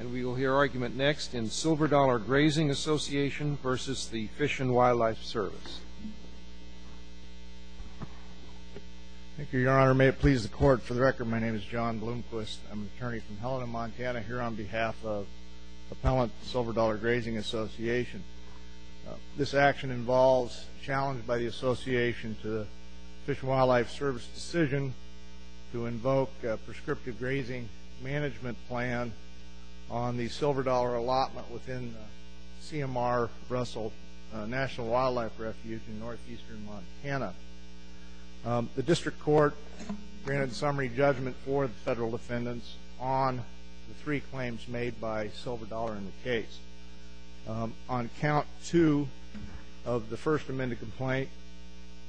And we will hear argument next in Silver Dollar Grazing Association v. the Fish and Wildlife Service. Thank you, Your Honor. May it please the Court, for the record, my name is John Bloomquist. I'm an attorney from Helena, Montana, here on behalf of Appellant Silver Dollar Grazing Association. This action involves challenge by the Association to the Fish and Wildlife Service decision to invoke a prescriptive grazing management plan on the silver dollar allotment within CMR Russell National Wildlife Refuge in northeastern Montana. The District Court granted summary judgment for the federal defendants on the three claims made by Silver Dollar in the case. On count two of the first amended complaint,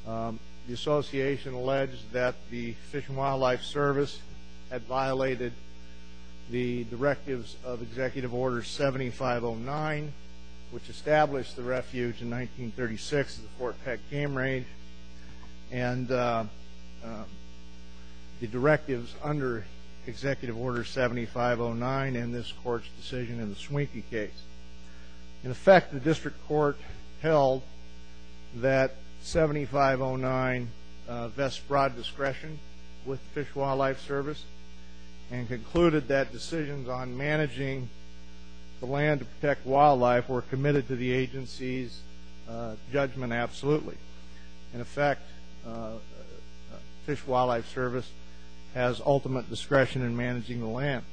the Association alleged that the Fish and Wildlife Service had violated the directives of Executive Order 7509, which established the refuge in 1936 at the Fort Peck Game Range, and the directives under Executive Order 7509 in this Court's decision in the Swinkie case. In effect, the District Court held that 7509 vests broad discretion with Fish and Wildlife Service and concluded that decisions on managing the land to protect wildlife were committed to the agency's judgment absolutely. In effect, Fish and Wildlife Service has ultimate discretion in managing the land.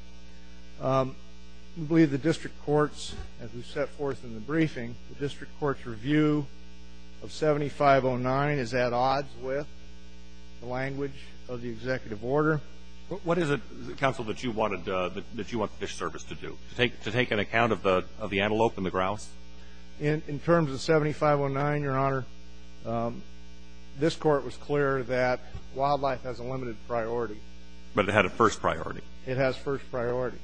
We believe the District Court's, as we set forth in the briefing, the District Court's review of 7509 is at odds with the language of the Executive Order. What is it, Counsel, that you wanted the Fish Service to do, to take an account of the antelope and the grouse? In terms of 7509, Your Honor, this Court was clear that wildlife has a limited priority. But it had a first priority. It has first priority.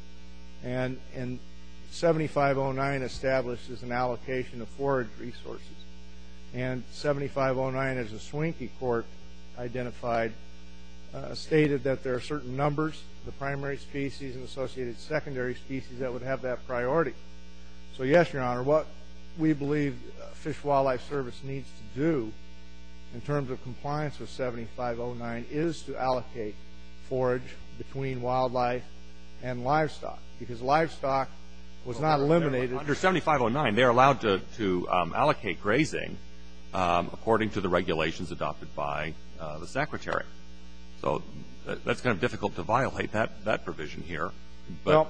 And 7509 establishes an allocation of forage resources. And 7509, as the Swinkie Court identified, stated that there are certain numbers, the primary species and associated secondary species, that would have that priority. So, yes, Your Honor, what we believe Fish and Wildlife Service needs to do in terms of compliance with 7509 is to allocate forage between wildlife and livestock. Because livestock was not eliminated. Under 7509, they're allowed to allocate grazing according to the regulations adopted by the Secretary. So that's kind of difficult to violate that provision here. But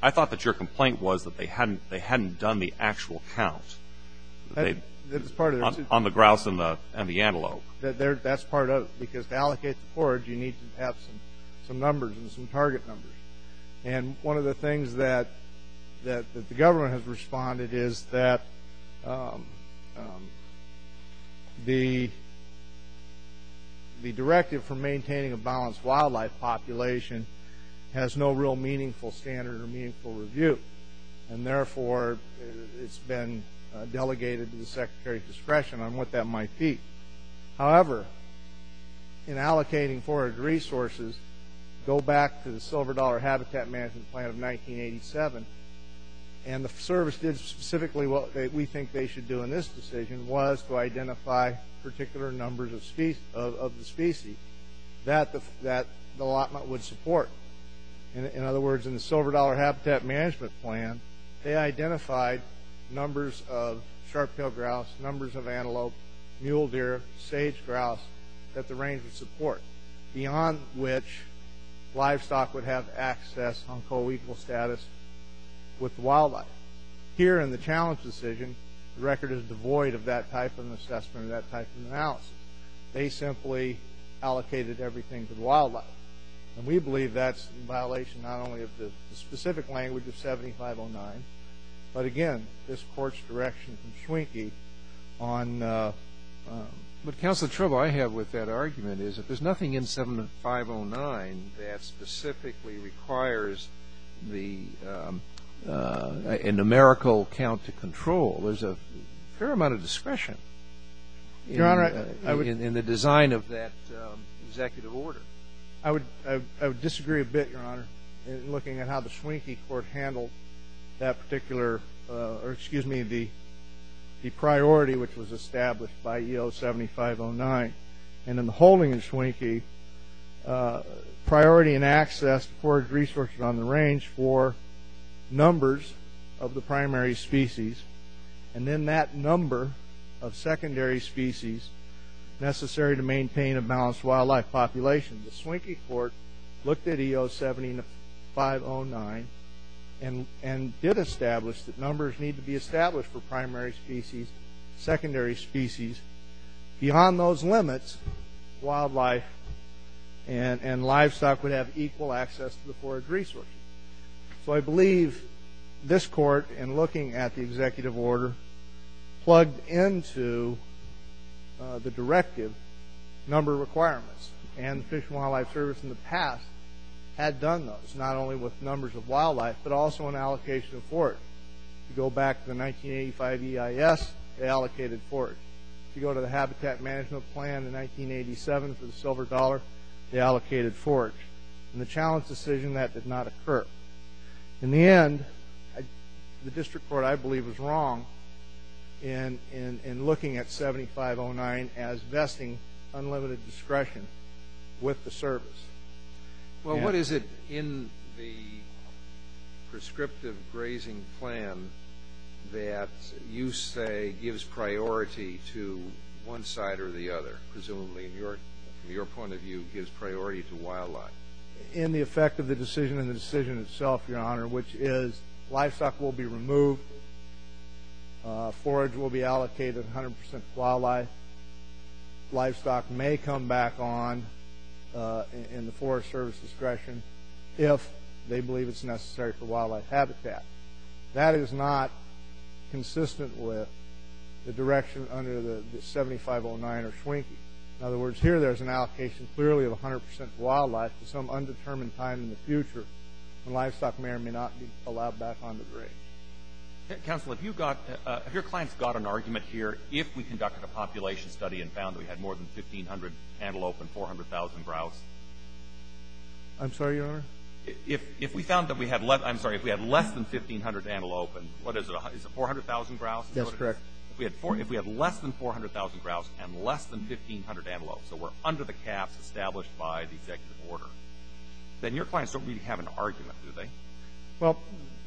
I thought that your complaint was that they hadn't done the actual count. That's part of it. On the grouse and the antelope. That's part of it. Because to allocate the forage, you need to have some numbers and some target numbers. And one of the things that the government has responded is that the directive for maintaining a balanced wildlife population has no real meaningful standard or meaningful review. And therefore, it's been delegated to the Secretary's discretion on what that might be. However, in allocating forage resources, go back to the Silver Dollar Habitat Management Plan of 1987, and the service did specifically what we think they should do in this decision, was to identify particular numbers of the species that the allotment would support. In other words, in the Silver Dollar Habitat Management Plan, they identified numbers of sharp-tailed grouse, numbers of antelope, mule deer, sage grouse that the range would support, beyond which livestock would have access on coequal status with the wildlife. Here in the challenge decision, the record is devoid of that type of assessment or that type of analysis. They simply allocated everything to the wildlife. And we believe that's in violation not only of the specific language of 7509, but again, this Court's direction from Schwenke on the ---- But, Counselor, the trouble I have with that argument is that there's nothing in 7509 that specifically requires the numerical count to control. There's a fair amount of discretion in the design of that executive order. I would disagree a bit, Your Honor, in looking at how the Schwenke Court handled that particular ---- or excuse me, the priority which was established by E.O. 7509. And in the holding of Schwenke, priority and access to forage resources on the range for numbers of the primary species and then that number of secondary species necessary to maintain a balanced wildlife population. The Schwenke Court looked at E.O. 7509 and did establish that numbers need to be established for primary species, secondary species. Beyond those limits, wildlife and livestock would have equal access to the forage resources. So I believe this Court, in looking at the executive order, plugged into the directive number of requirements. And the Fish and Wildlife Service in the past had done those, not only with numbers of wildlife, but also an allocation of forage. To go back to the 1985 EIS, they allocated forage. To go to the Habitat Management Plan in 1987 for the silver dollar, they allocated forage. In the challenge decision, that did not occur. In the end, the district court, I believe, was wrong in looking at E.O. 7509 as vesting unlimited discretion with the service. Well, what is it in the prescriptive grazing plan that you say gives priority to one side or the other, presumably from your point of view, gives priority to wildlife? In the effect of the decision and the decision itself, Your Honor, which is livestock will be removed, forage will be allocated 100% to wildlife, livestock may come back on in the Forest Service discretion if they believe it's necessary for wildlife habitat. That is not consistent with the direction under the 7509 or Schwingke. In other words, here there's an allocation clearly of 100% wildlife to some undetermined time in the future when livestock may or may not be allowed back on the grid. Counsel, have your clients got an argument here if we conducted a population study and found that we had more than 1,500 antelope and 400,000 grouse? I'm sorry, Your Honor? If we found that we had less than 1,500 antelope and what is it, 400,000 grouse? That's correct. If we had less than 400,000 grouse and less than 1,500 antelope, so we're under the caps established by the executive order, then your clients don't really have an argument, do they? Well,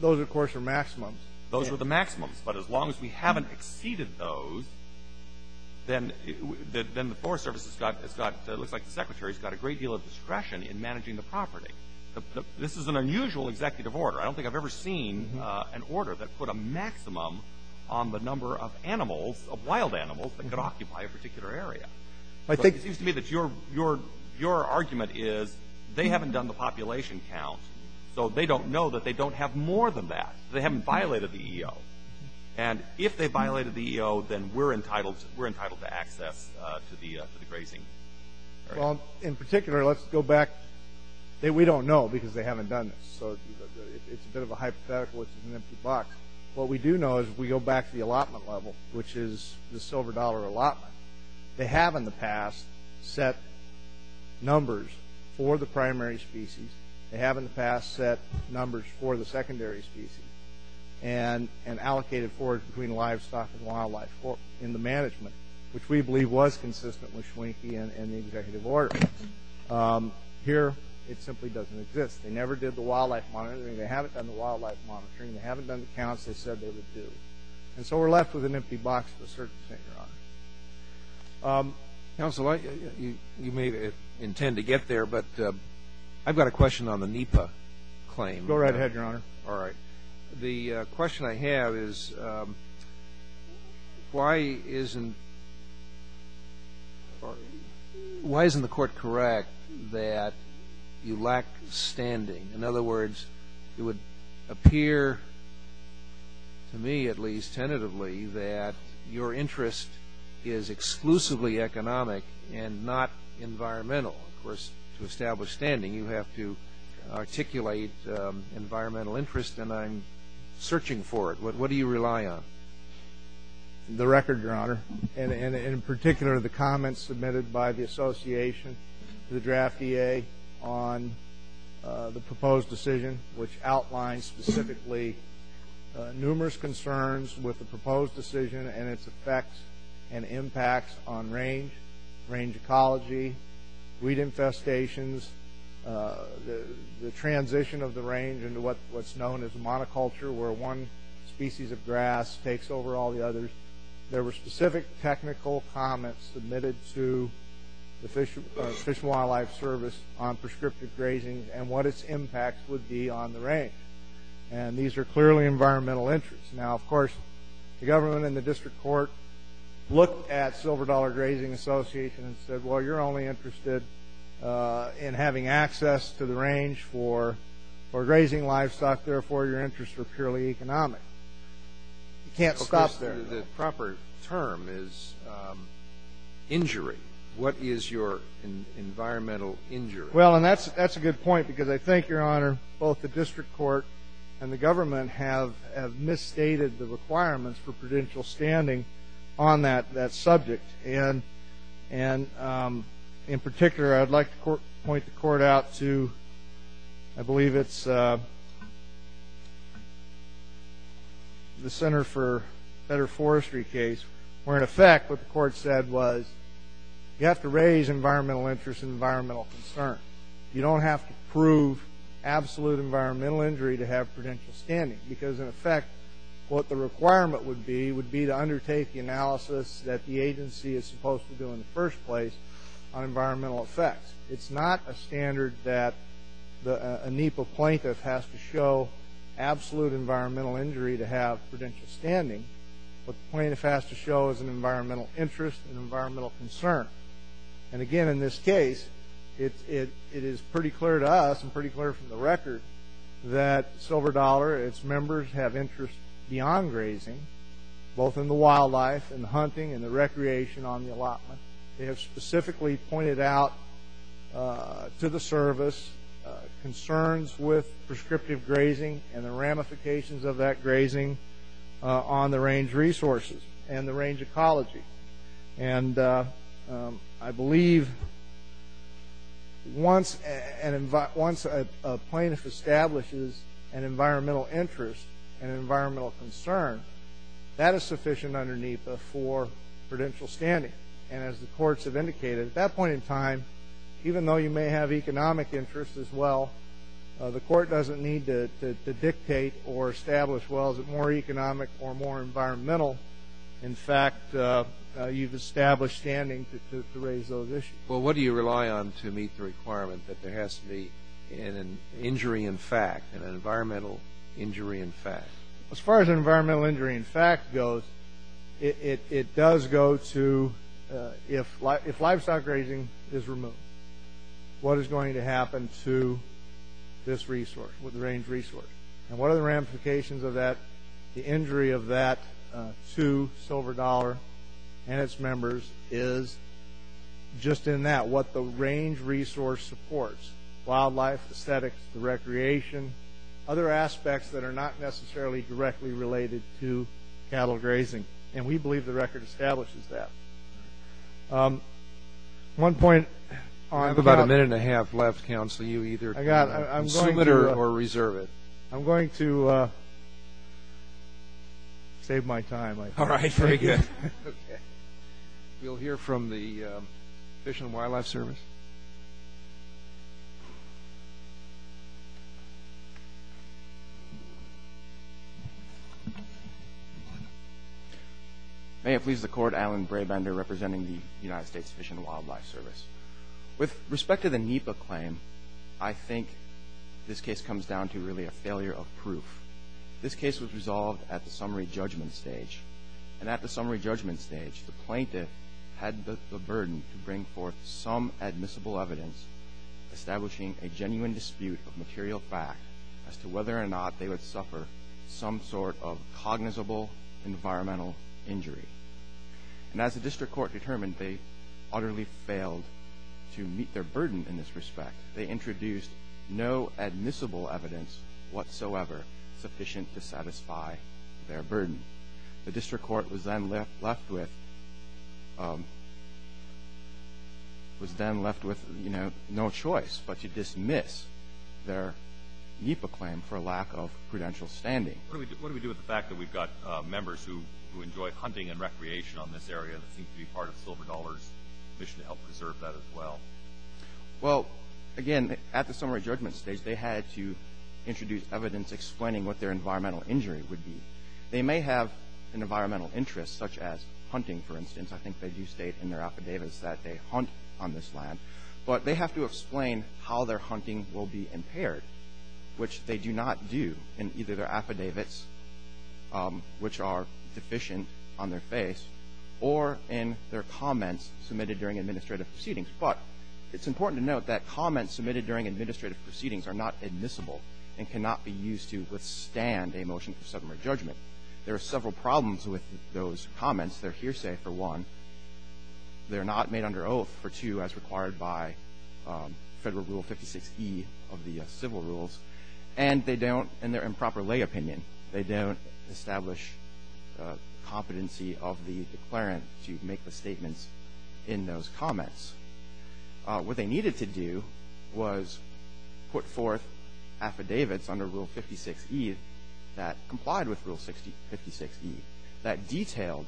those, of course, are maximums. Those are the maximums. But as long as we haven't exceeded those, then the Forest Service has got – this is an unusual executive order. I don't think I've ever seen an order that put a maximum on the number of animals, of wild animals, that could occupy a particular area. It seems to me that your argument is they haven't done the population count, so they don't know that they don't have more than that. They haven't violated the EO. And if they violated the EO, then we're entitled to access to the grazing area. Well, in particular, let's go back. We don't know because they haven't done this. So it's a bit of a hypothetical. It's an empty box. What we do know is if we go back to the allotment level, which is the silver dollar allotment, they have in the past set numbers for the primary species. They have in the past set numbers for the secondary species and allocated forage between livestock and wildlife in the management, which we believe was consistent with Schwenke and the executive order. Here it simply doesn't exist. They never did the wildlife monitoring. They haven't done the wildlife monitoring. They haven't done the counts they said they would do. And so we're left with an empty box of a certain extent, Your Honor. Counsel, you may intend to get there, but I've got a question on the NEPA claim. Go right ahead, Your Honor. All right. The question I have is why isn't the court correct that you lack standing? In other words, it would appear to me, at least tentatively, that your interest is exclusively economic and not environmental. Of course, to establish standing, you have to articulate environmental interest, and I'm searching for it. What do you rely on? The record, Your Honor, and in particular the comments submitted by the association to the draft EA on the proposed decision, which outlines specifically numerous concerns with the proposed decision and its effects and impacts on range, range ecology, weed infestations, the transition of the range into what's known as a monoculture where one species of grass takes over all the others. There were specific technical comments submitted to the Fish and Wildlife Service on prescriptive grazing and what its impact would be on the range. And these are clearly environmental interests. Now, of course, the government and the district court looked at Silver Dollar Grazing Association and said, well, you're only interested in having access to the range for grazing livestock. Therefore, your interests are purely economic. You can't stop there. The proper term is injury. What is your environmental injury? Well, and that's a good point because I think, Your Honor, both the district court and the government have misstated the requirements for prudential standing on that subject. And in particular, I'd like to point the court out to, I believe it's the Center for Better Forestry case, where, in effect, what the court said was you have to raise environmental interest and environmental concern. You don't have to prove absolute environmental injury to have prudential standing because, in effect, what the requirement would be would be to undertake the analysis that the agency is supposed to do in the first place on environmental effects. It's not a standard that a NEPA plaintiff has to show absolute environmental injury to have prudential standing, but the plaintiff has to show as an environmental interest and environmental concern. And, again, in this case, it is pretty clear to us and pretty clear from the record that Silver Dollar, its members have interest beyond grazing, both in the wildlife and the hunting and the recreation on the allotment. They have specifically pointed out to the service concerns with prescriptive grazing and the ramifications of that grazing on the range resources and the range ecology. And I believe once a plaintiff establishes an environmental interest and environmental concern, that is sufficient under NEPA for prudential standing. And as the courts have indicated, at that point in time, even though you may have economic interest as well, the court doesn't need to dictate or establish, well, is it more economic or more environmental. In fact, you've established standing to raise those issues. Well, what do you rely on to meet the requirement that there has to be an injury in fact, an environmental injury in fact? As far as environmental injury in fact goes, it does go to if livestock grazing is removed, what is going to happen to this resource, the range resource? And what are the ramifications of that? The injury of that to Silver Dollar and its members is just in that, what the range resource supports, wildlife, aesthetics, the recreation, other aspects that are not necessarily directly related to cattle grazing. And we believe the record establishes that. I have about a minute and a half left, counsel. I'm going to save my time. All right. Very good. Okay. We'll hear from the Fish and Wildlife Service. May it please the Court, Alan Brabender representing the United States Fish and Wildlife Service. With respect to the NEPA claim, I think this case comes down to really a failure of proof. This case was resolved at the summary judgment stage. And at the summary judgment stage, the plaintiff had the burden to bring forth some admissible evidence establishing a genuine dispute of material fact as to whether or not they would suffer some sort of cognizable environmental injury. And as the district court determined, they utterly failed to meet their burden in this respect. They introduced no admissible evidence whatsoever sufficient to satisfy their burden. The district court was then left with no choice but to dismiss their NEPA claim for lack of prudential standing. What do we do with the fact that we've got members who enjoy hunting and recreation on this area that seems to be part of Silver Dollar's mission to help preserve that as well? Well, again, at the summary judgment stage, they had to introduce evidence explaining what their environmental injury would be. They may have an environmental interest such as hunting, for instance. I think they do state in their affidavits that they hunt on this land. which they do not do in either their affidavits, which are deficient on their face, or in their comments submitted during administrative proceedings. But it's important to note that comments submitted during administrative proceedings are not admissible and cannot be used to withstand a motion for summary judgment. There are several problems with those comments. They're hearsay, for one. They're not made under oath, for two, as required by Federal Rule 56E of the civil rules. And they don't, in their improper lay opinion, they don't establish competency of the declarant to make the statements in those comments. What they needed to do was put forth affidavits under Rule 56E that complied with Rule 56E that detailed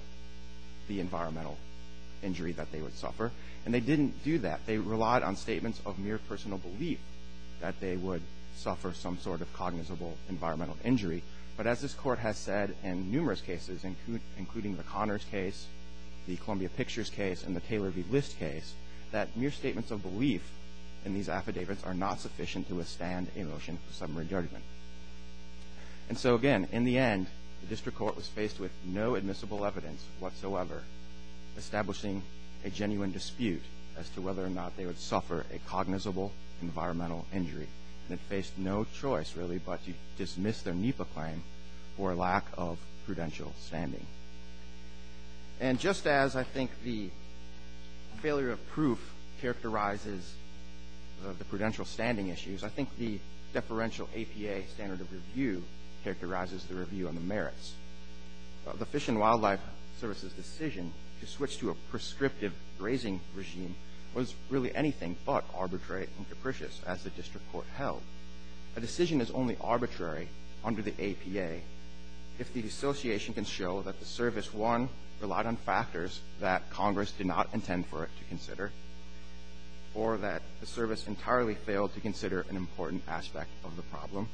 the environmental injury that they would suffer. And they didn't do that. They relied on statements of mere personal belief that they would suffer some sort of cognizable environmental injury. But as this Court has said in numerous cases, including the Connors case, the Columbia Pictures case, and the Taylor v. List case, that mere statements of belief in these affidavits are not sufficient to withstand a motion for summary judgment. And so, again, in the end, the district court was faced with no admissible evidence whatsoever establishing a genuine dispute as to whether or not they would suffer a cognizable environmental injury. And it faced no choice, really, but to dismiss their NEPA claim for lack of prudential standing. And just as I think the failure of proof characterizes the prudential standing issues, I think the deferential APA standard of review characterizes the review on the merits. The Fish and Wildlife Service's decision to switch to a prescriptive grazing regime was really anything but arbitrary and capricious as the district court held. A decision is only arbitrary under the APA if the association can show that the service, one, relied on factors that Congress did not intend for it to consider or that the service entirely failed to consider an important aspect of the problem.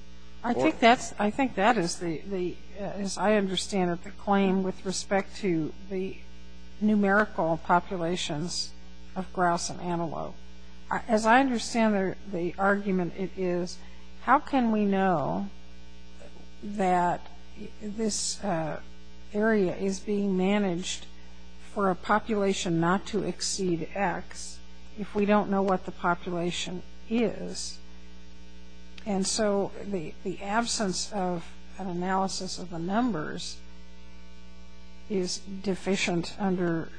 I think that's, I think that is the, as I understand it, the claim with respect to the numerical populations of grouse and antelope. As I understand the argument, it is how can we know that this area is being managed for a population not to exceed X if we don't know what the population is? And so the absence of an analysis of the numbers is deficient under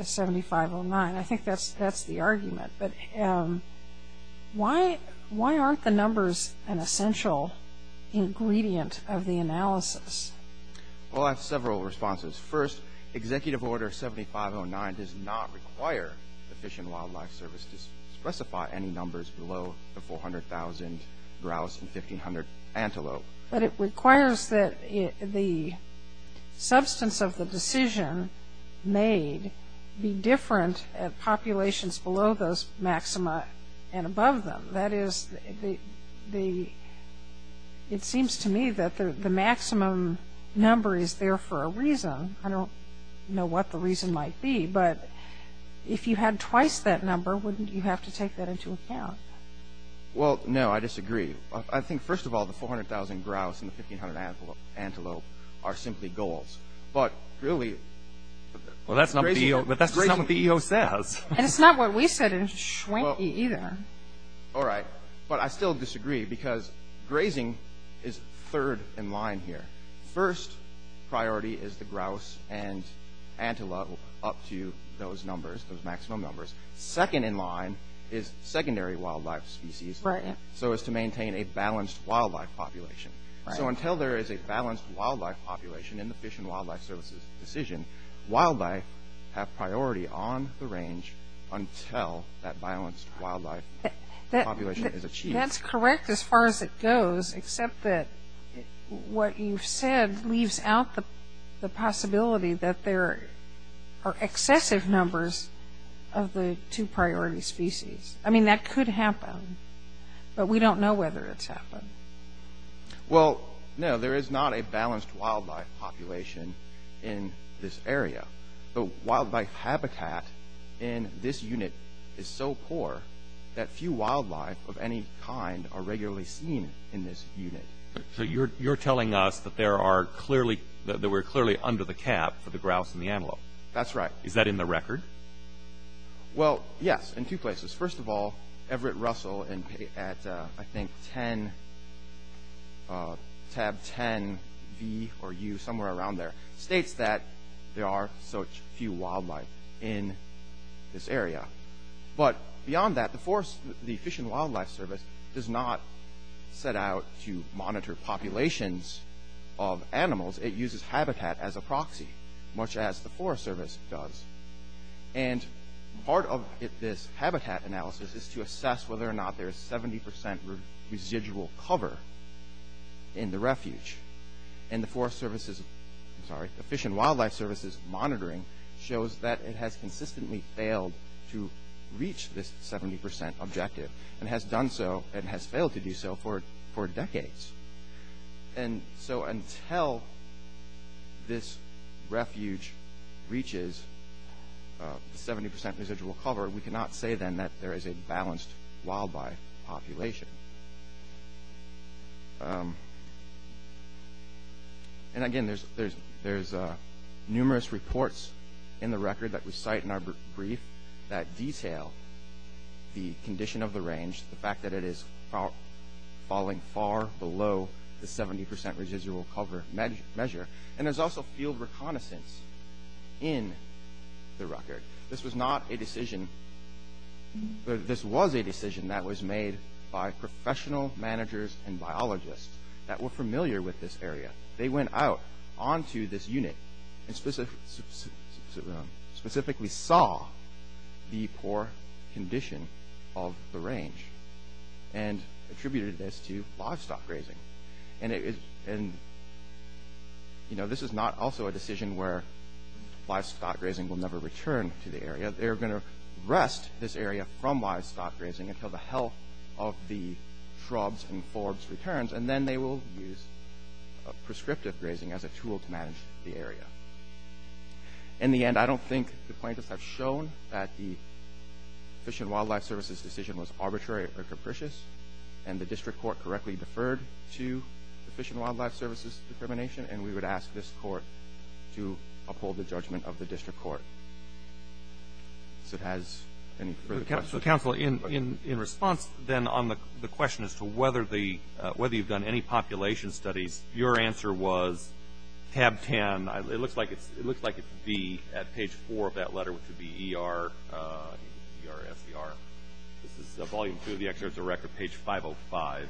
7509. I think that's the argument. But why aren't the numbers an essential ingredient of the analysis? Well, I have several responses. First, Executive Order 7509 does not require the Fish and Wildlife Service to specify any numbers below the 400,000 grouse and 1,500 antelope. But it requires that the substance of the decision made be different at populations below those maxima and above them. That is the, it seems to me that the maximum number is there for a reason. I don't know what the reason might be. But if you had twice that number, wouldn't you have to take that into account? Well, no, I disagree. I think, first of all, the 400,000 grouse and the 1,500 antelope are simply goals. But really, it's crazy. Well, that's not what the EO says. And it's not what we said in Schwenke either. All right. But I still disagree because grazing is third in line here. First priority is the grouse and antelope up to those numbers, those maximum numbers. Second in line is secondary wildlife species so as to maintain a balanced wildlife population. So until there is a balanced wildlife population in the Fish and Wildlife Service's decision, wildlife have priority on the range until that balanced wildlife population is achieved. That's correct as far as it goes, except that what you've said leaves out the possibility that there are excessive numbers of the two priority species. I mean, that could happen. But we don't know whether it's happened. Well, no, there is not a balanced wildlife population in this area. The wildlife habitat in this unit is so poor that few wildlife of any kind are regularly seen in this unit. So you're telling us that we're clearly under the cap for the grouse and the antelope. That's right. Is that in the record? Well, yes, in two places. First of all, Everett Russell at, I think, tab 10V or U, somewhere around there, states that there are such few wildlife in this area. But beyond that, the Fish and Wildlife Service does not set out to monitor populations of animals. It uses habitat as a proxy, much as the Forest Service does. And part of this habitat analysis is to assess whether or not there is 70% residual cover in the refuge. And the Forest Service's, I'm sorry, the Fish and Wildlife Service's monitoring shows that it has consistently failed to reach this 70% objective and has done so and has failed to do so for decades. And so until this refuge reaches 70% residual cover, we cannot say then that there is a balanced wildlife population. And again, there's numerous reports in the record that we cite in our brief that detail the condition of the range, the fact that it is falling far below the 70% residual cover measure. And there's also field reconnaissance in the record. This was not a decision – this was a decision that was made by professional managers and biologists that were familiar with this area. They went out onto this unit and specifically saw the poor condition of the range and attributed this to livestock grazing. And, you know, this is not also a decision where livestock grazing will never return to the area. They're going to wrest this area from livestock grazing until the health of the shrubs and forbs returns. And then they will use prescriptive grazing as a tool to manage the area. In the end, I don't think the plaintiffs have shown that the Fish and Wildlife Service's decision was arbitrary or capricious and the district court correctly deferred to the Fish and Wildlife Service's determination, and we would ask this court to uphold the judgment of the district court. Does it have any further questions? Counsel, in response, then, on the question as to whether you've done any population studies, your answer was tab 10. It looks like it would be at page 4 of that letter, which would be E-R-S-E-R. This is volume 2 of the excerpt of the record, page 505.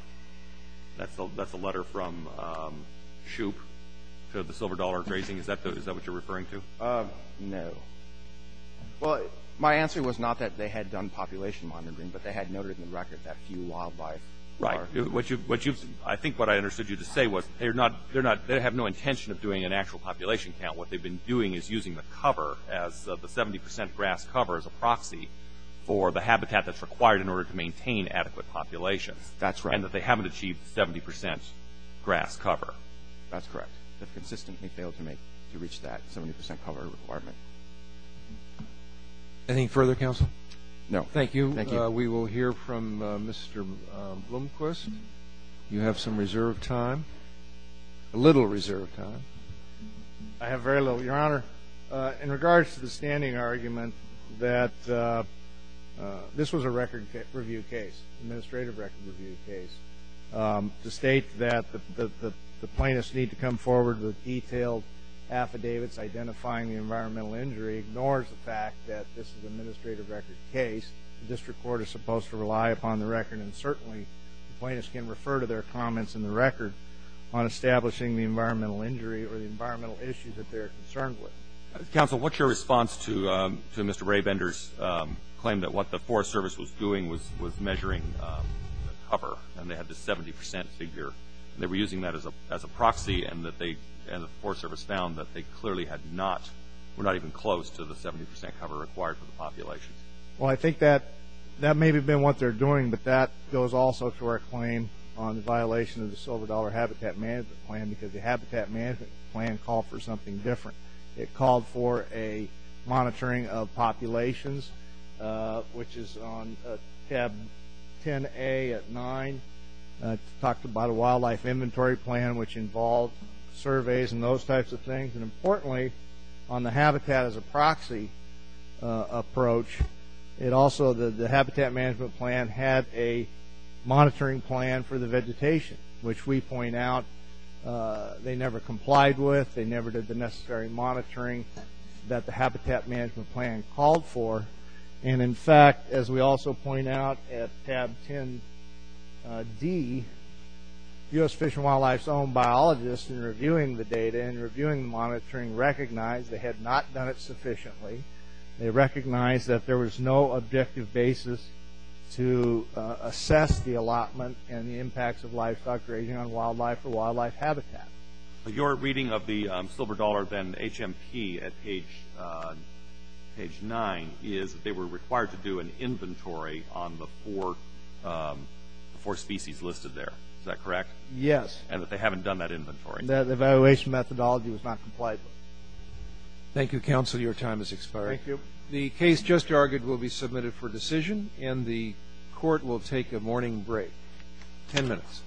That's a letter from Shoup to the Silver Dollar Grazing. Is that what you're referring to? No. Well, my answer was not that they had done population monitoring, but they had noted in the record that few wildlife are. Right. I think what I understood you to say was they have no intention of doing an actual population count. What they've been doing is using the cover as the 70 percent grass cover as a proxy for the habitat that's required in order to maintain adequate populations. That's right. And that they haven't achieved 70 percent grass cover. That's correct. They've consistently failed to reach that 70 percent cover requirement. Any further counsel? No. Thank you. Thank you. We will hear from Mr. Blomquist. You have some reserve time, a little reserve time. I have very little, Your Honor. In regards to the standing argument that this was a record review case, administrative record review case, to state that the plaintiffs need to come forward with detailed affidavits identifying the environmental injury ignores the fact that this is an administrative record case. The district court is supposed to rely upon the record, and certainly the plaintiffs can refer to their comments in the record on establishing the environmental injury or the environmental issue that they're concerned with. Counsel, what's your response to Mr. Raybender's claim that what the Forest Service was doing was measuring the cover and they had the 70 percent figure and they were using that as a proxy and the Forest Service found that they clearly had not, were not even close to the 70 percent cover required for the populations? Well, I think that may have been what they're doing, but that goes also to our claim on the violation of the Silver Dollar Habitat Management Plan because the Habitat Management Plan called for something different. It called for a monitoring of populations, which is on tab 10A at 9. It talked about a wildlife inventory plan, which involved surveys and those types of things, and importantly, on the habitat as a proxy approach, it also, the Habitat Management Plan had a monitoring plan for the vegetation, which we point out they never complied with. They never did the necessary monitoring that the Habitat Management Plan called for, and in fact, as we also point out at tab 10D, U.S. Fish and Wildlife's own biologists in reviewing the data and reviewing the monitoring recognized they had not done it sufficiently. They recognized that there was no objective basis to assess the allotment and the impacts of livestock grazing on wildlife or wildlife habitat. Your reading of the Silver Dollar, then HMP, at page 9 is that they were required to do an inventory on the four species listed there. Is that correct? Yes. And that they haven't done that inventory? The evaluation methodology was not complied with. Thank you, counsel. Your time has expired. Thank you. The case just argued will be submitted for decision, and the court will take a morning break. Ten minutes.